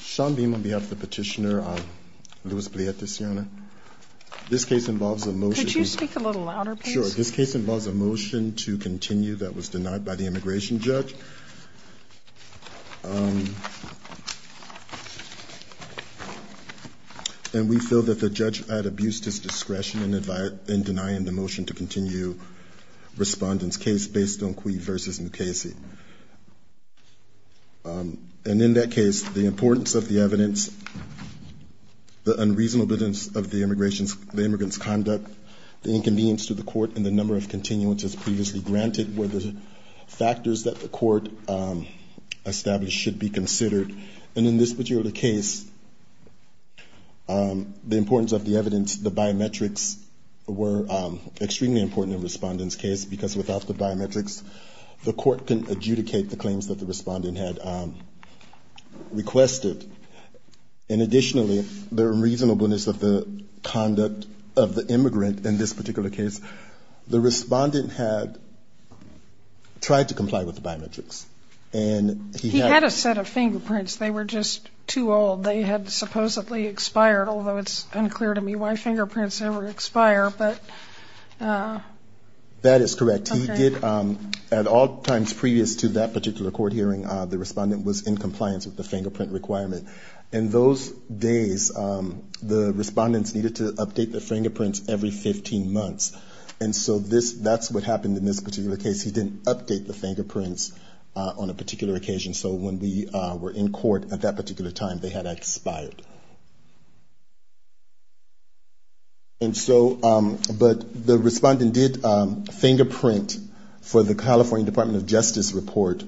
Sean Beam on behalf of the petitioner, Louis Pleitez-Lopez. This case involves a motion Could you speak a little louder please? Sure, this case involves a motion to continue that was denied by the immigration judge. And we feel that the judge had abused his discretion in denying the motion to continue respondents' case based on Cui versus Mukasey. And in that case, the importance of the evidence, the unreasonableness of the immigrants' conduct, the inconvenience to the court, and the number of continuances previously granted were the factors that the court established should be considered. And in this particular case, the importance of the evidence, the biometrics were extremely important in the respondent's case because without the biometrics, the court can adjudicate the claims that the respondent had requested. And additionally, the reasonableness of the conduct of the immigrant in this particular case, the respondent had tried to comply with the biometrics. And he had a set of fingerprints. They were just too old. They had supposedly expired, although it's unclear to me why fingerprints ever expire. That is correct. At all times previous to that particular court hearing, the respondent was in compliance with the fingerprint requirement. In those days, the respondents needed to update the fingerprints every 15 months. And so that's what happened in this particular case. He didn't update the fingerprints on a particular occasion. So when we were in court at that time, the respondent did fingerprint for the California Department of Justice report,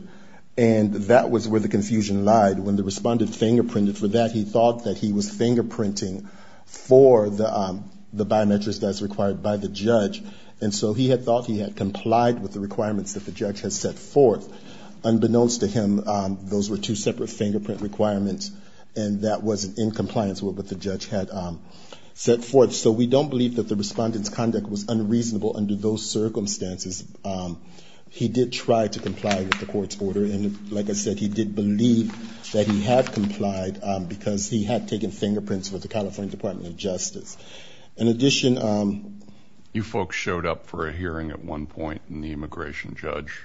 and that was where the confusion lied. When the respondent fingerprinted for that, he thought that he was fingerprinting for the biometrics that was required by the judge. And so he had thought he had complied with the requirements that the judge had set forth. Unbeknownst to him, those were two separate fingerprint requirements, and that was in compliance with what the judge had set forth. So we don't believe that the respondent's conduct was unreasonable under those circumstances. He did try to comply with the court's order. And like I said, he did believe that he had complied because he had taken fingerprints with the California Department of Justice. In addition, you folks showed up for a hearing at one point, and the immigration judge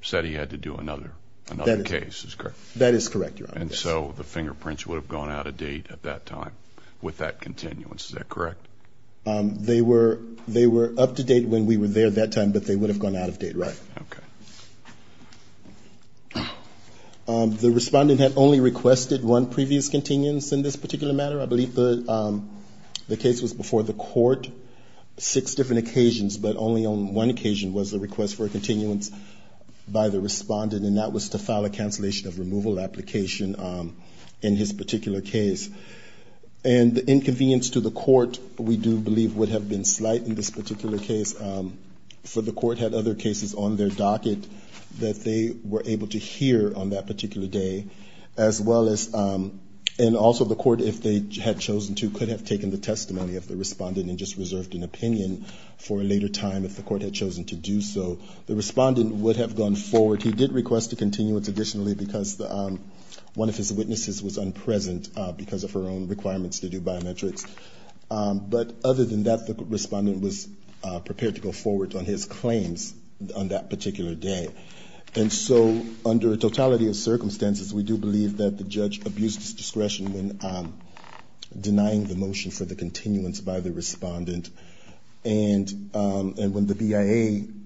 said And so the fingerprints would have gone out of date at that time with that continuance. Is that correct? They were up to date when we were there that time, but they would have gone out of date. The respondent had only requested one previous continuance in this particular matter. I believe the case was before the court, six different occasions, but only on one occasion was the request for a continuance by the respondent, and that was to file a cancellation of removal application in his particular case. And the inconvenience to the court, we do believe, would have been slight in this particular case, for the court had other cases on their docket that they were able to hear on that particular day, as well as, and also the court, if they had chosen to, could have taken the testimony of the respondent and just reserved an opinion for a later time, if the court had chosen to do so. The respondent would have gone forward. He did request a continuance additionally, because one of his witnesses was unpresent because of her own requirements to do biometrics. But other than that, the respondent was prepared to go forward on his claims on that particular day. And so under a totality of circumstances, we do believe that the judge abused his discretion when denying the motion for the continuance by the respondent, and when the BIA did not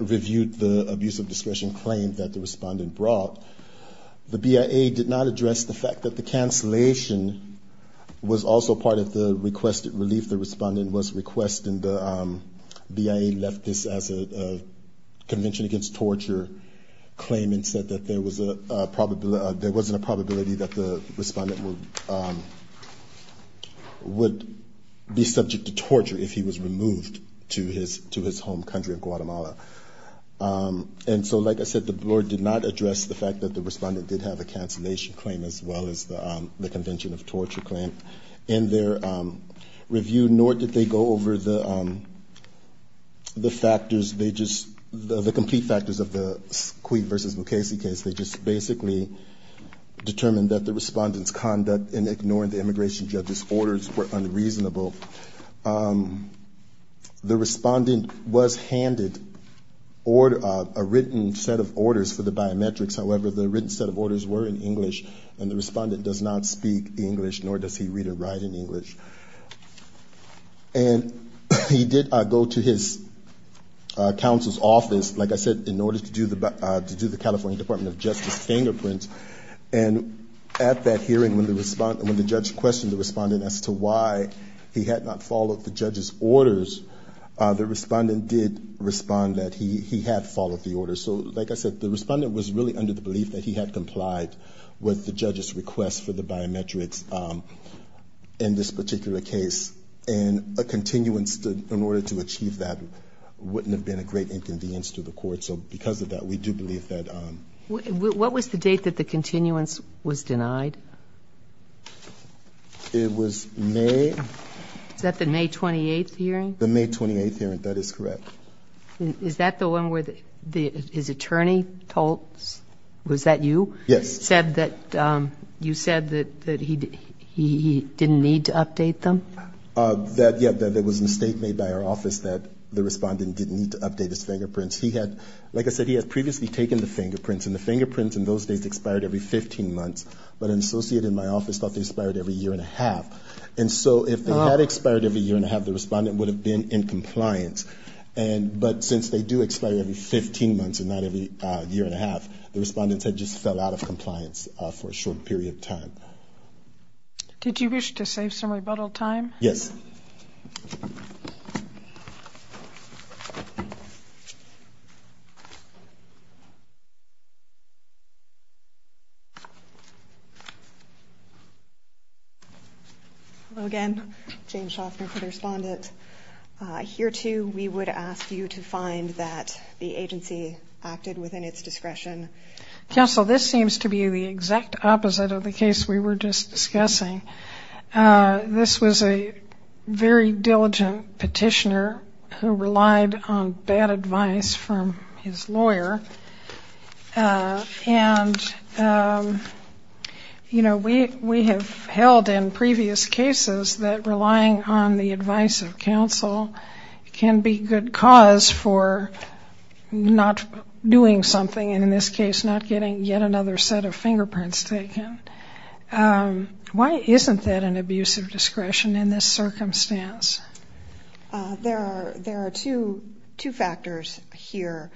review the abuse of discretion claim that the respondent brought, the BIA did not address the fact that the cancellation was also part of the requested relief. The respondent was requesting the, BIA left this as a convention against torture claim and said that there was a probability, there wasn't a probability that the respondent would be subject to torture if he was removed to his home country of Guatemala. And so like I said, the board did not address the fact that the respondent did have a cancellation claim as well as the convention of torture claim in their review, nor did they go over the factors. They just, the complete factors of the Cui versus Mukasey case, they just basically determined that the respondent's conduct in ignoring the immigration judge's request. The respondent was handed a written set of orders for the biometrics. However, the written set of orders were in English, and the respondent does not speak English, nor does he read or write in English. And he did go to his counsel's office, like I said, in order to do the California Department of Justice fingerprint. And at that hearing, when the judge questioned the respondent's orders, the respondent did respond that he had followed the orders. So like I said, the respondent was really under the belief that he had complied with the judge's request for the biometrics in this particular case. And a continuance in order to achieve that wouldn't have been a great inconvenience to the court. So because of that, we do believe that. What was the date that the continuance was denied? It was May. Is that the May 28th hearing? The May 28th hearing, that is correct. Is that the one where his attorney told, was that you? Yes. Said that, you said that he didn't need to update them? That, yeah, that there was a mistake made by our office that the respondent didn't need to update his fingerprints. He had, like I said, he had previously taken the fingerprints, and the fingerprints in those days expired every 15 months. But an associate in my office thought they expired every year and a half. And so if they had expired every year and a half, the respondent would have been in compliance. And, but since they do expire every 15 months and not every year and a half, the respondent had just fell out of compliance for a short period of time. Did you wish to save some rebuttal time? Yes. Hello again. Jane Shostner for the respondent. Here, too, we would ask you to find that the agency acted within its discretion. Counsel, this seems to be the exact opposite of the case we were just discussing. This was a very diligent petitioner who relied on bad advice from his lawyer. And, you know, we have held in previous cases that relying on the advice of counsel can be good cause for not doing something, and in this case, not getting yet another set of fingerprints taken. Why isn't that an abuse of discretion in this circumstance? There are two factors here.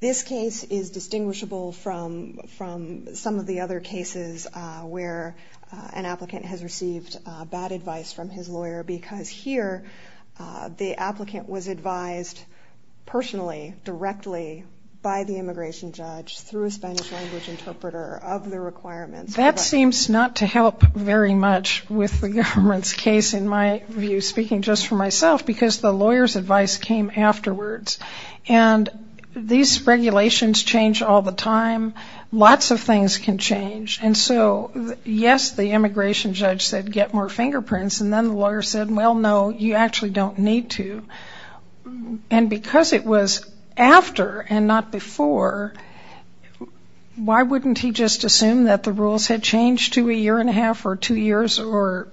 This case is distinguishable from some of the other cases where an applicant has received bad advice from his lawyer because here the applicant was advised personally, directly, by the immigration judge through a Spanish language interpreter of the requirements. That seems not to help very much with the government's case, in my view, speaking just for myself, because the lawyer's advice came afterwards. And these regulations change all the time. Lots of things can change. And so, yes, the immigration judge said, get more fingerprints, and then the lawyer said, well, no, you actually don't need to. And because it was after and not before, why wouldn't he just assume that the rules had changed to a year and a half or two years or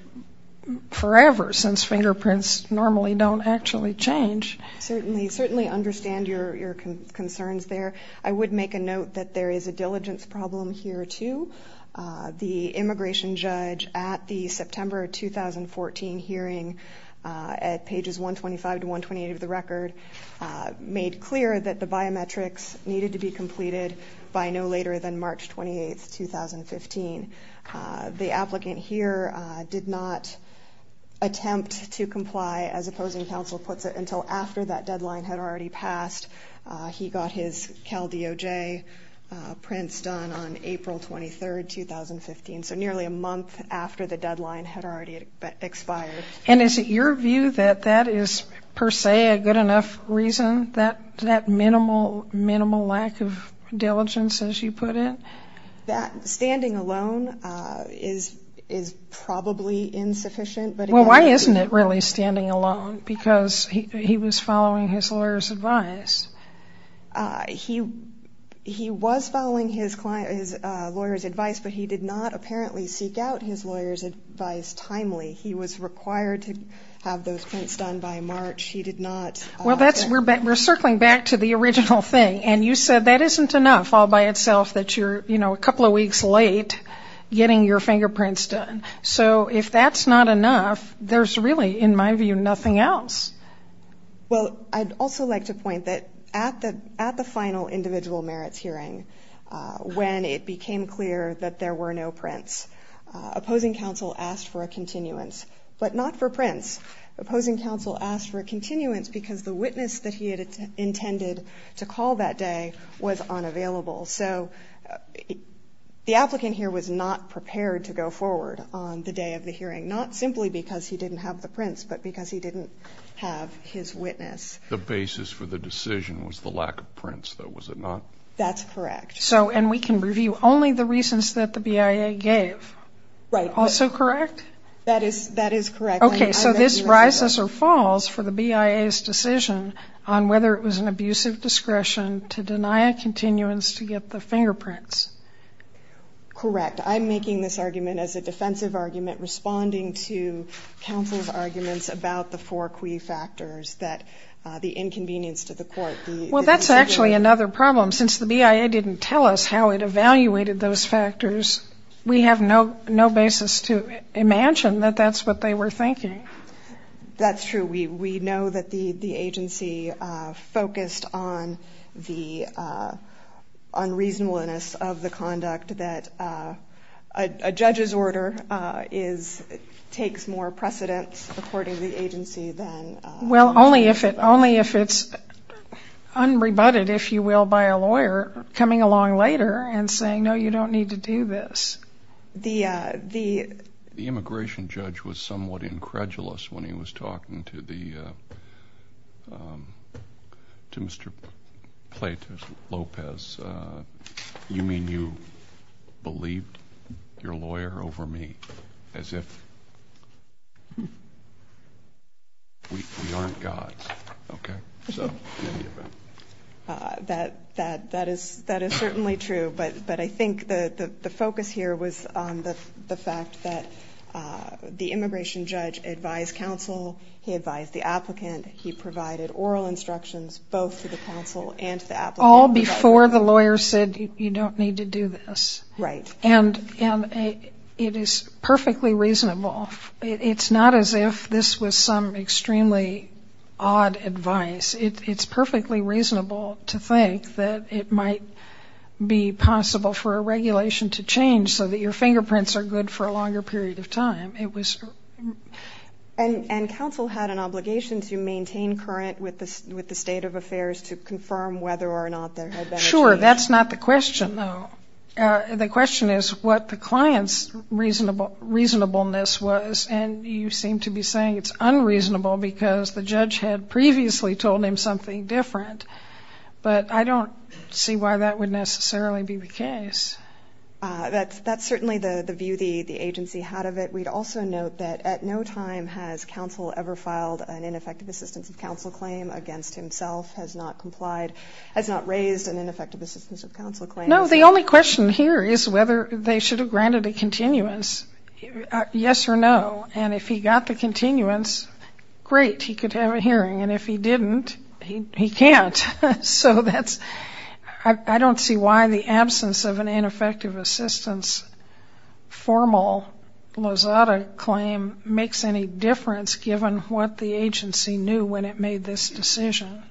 forever, since fingerprints normally don't actually change? Certainly understand your concerns there. I would make a note that there is a diligence problem here, too. The immigration judge at the September 2014 hearing at pages 125 to 128 of the record made clear that the biometrics needed to be completed by no later than March 28, 2015. The applicant here did not attempt to comply, as opposing counsel puts it, until after that deadline had already passed. He got his CalDOJ prints done on April 23, 2015, so nearly a month after the deadline had already expired. And is it your view that that is per se a good enough reason, that minimal lack of diligence, as you put it? That standing alone is probably insufficient. Well, why isn't it really standing alone? Because he was following his lawyer's advice. He was following his lawyer's advice, but he did not apparently seek out his lawyer's advice timely. He was required to have those prints done by March. Well, we're circling back to the original thing, and you said that isn't enough all by itself that you're a couple of weeks late getting your fingerprints done. So if that's not enough, there's really, in my view, nothing else. Well, I'd also like to point that at the final individual merits hearing, when it became clear that there were no prints, opposing counsel asked for a continuance, but not for prints. Opposing counsel asked for a continuance because the witness that he had intended to call that day was unavailable. So the applicant here was not prepared to go forward on the day of the hearing, not simply because he didn't have the prints, but because he didn't have his witness. The basis for the decision was the lack of prints, though, was it not? That's correct. So, and we can review only the reasons that the BIA gave, also correct? That is correct. Okay, so this rises or falls for the BIA's decision on whether it was an abusive discretion to deny a continuance to get the fingerprints. Correct. I'm making this argument as a defensive argument, responding to counsel's arguments about the four key factors that the inconvenience to the court. Well, that's actually another problem. Since the BIA didn't tell us how it evaluated those factors, we have no basis to imagine that that's what they were thinking. That's true. We know that the agency focused on the unreasonableness of the conduct, that a judge's order is, takes more precedence, according to the agency, than... Well, only if it's unrebutted, if you will, by a lawyer coming along later and saying, no, you don't need to do this. The immigration judge was somewhat incredulous when he was talking to Mr. Plata Lopez. You mean you believed your lawyer over me, as if we aren't going to do this? We aren't gods, okay? That is certainly true, but I think the focus here was on the fact that the immigration judge advised counsel, he advised the applicant, he provided oral instructions both to the counsel and to the applicant. All before the lawyer said, you don't need to do this. And it is perfectly reasonable. It's not as if this was some extremely odd advice. It's perfectly reasonable to think that it might be possible for a regulation to change so that your fingerprints are good for a longer period of time. And counsel had an obligation to maintain current with the state of affairs to confirm whether or not there had been a change? Well, sure, that's not the question, though. The question is what the client's reasonableness was. And you seem to be saying it's unreasonable because the judge had previously told him something different. But I don't see why that would necessarily be the case. That's certainly the view the agency had of it. We'd also note that at no time has counsel ever filed an ineffective assistance of counsel claim against himself, has not raised an ineffective assistance of counsel claim against himself. No, the only question here is whether they should have granted a continuance, yes or no. And if he got the continuance, great, he could have a hearing. And if he didn't, he can't. So that's, I don't see why the absence of an ineffective assistance formal Lozada claim makes any difference given what the agency knew when it made this decision.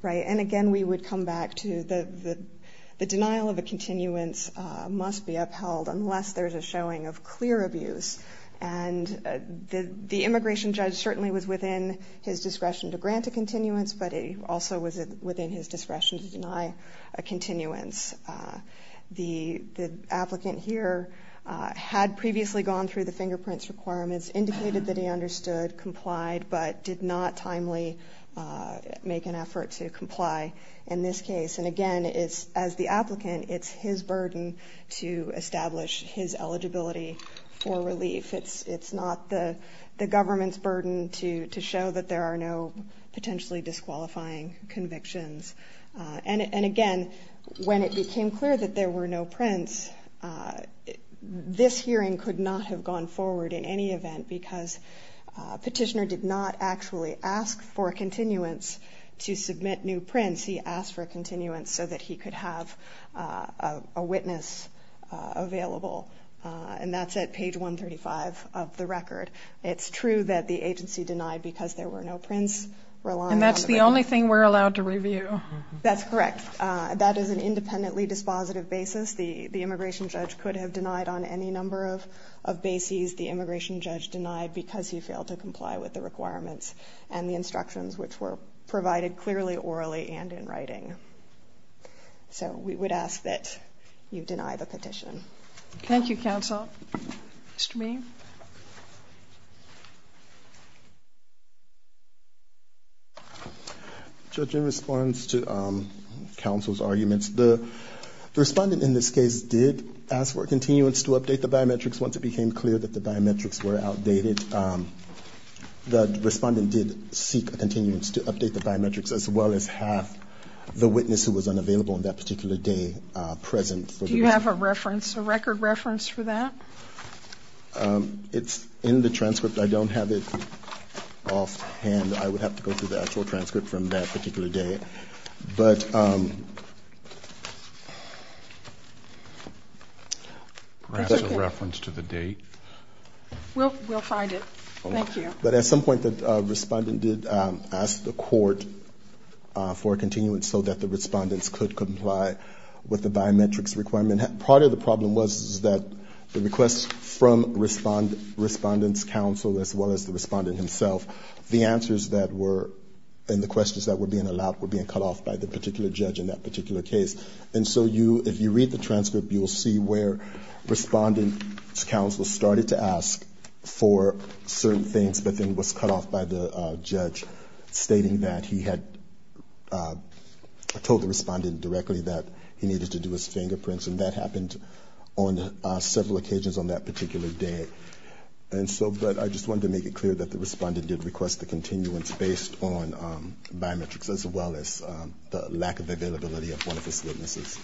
Right. And again, we would come back to the denial of a continuance must be upheld unless there's a showing of clear abuse. And the immigration judge certainly was within his discretion to grant a continuance, but he also was within his discretion to deny a continuance. The applicant here had previously gone through the fingerprints requirements, indicated that he understood, complied, but did not timely make an application. And again, it's as the applicant, it's his burden to establish his eligibility for relief. It's not the government's burden to show that there are no potentially disqualifying convictions. And again, when it became clear that there were no prints, this hearing could not have gone forward in any event because petitioner did not actually ask for a continuance to show that there are no potentially disqualifying convictions. When he went to submit new prints, he asked for a continuance so that he could have a witness available. And that's at page 135 of the record. It's true that the agency denied because there were no prints. And that's the only thing we're allowed to review. That's correct. That is an independently dispositive basis. The immigration judge could have denied on any number of bases. The immigration judge denied because he failed to comply with the requirements and the instructions, which were provided clearly orally and in writing. So we would ask that you deny the petition. Judge, in response to counsel's arguments, the respondent in this case did ask for a continuance to update the biometrics once it became clear that the biometrics were in effect. The respondent did seek a continuance to update the biometrics as well as have the witness who was unavailable on that particular day present. Do you have a record reference for that? It's in the transcript. I don't have it offhand. I would have to go through the actual transcript from that particular day. But... Perhaps a reference to the date. We'll find it. Thank you. But at some point the respondent did ask the court for a continuance so that the respondents could comply with the biometrics requirement. Part of the problem was that the request from respondent's counsel as well as the respondent himself, the answers that were in the questions that were being allowed were being cut off by the particular judge in that particular case. And so you, if you read the transcript, you'll see where respondent's counsel started to ask for certain things, but then was cut off by the judge stating that he had told the respondent directly that he needed to do his fingerprints. And that happened on several occasions on that particular day. And so, but I just wanted to make it clear that the respondent did request the continuance based on biometrics as well as the lack of availability of one of his witnesses.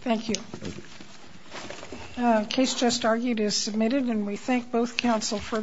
Thank you.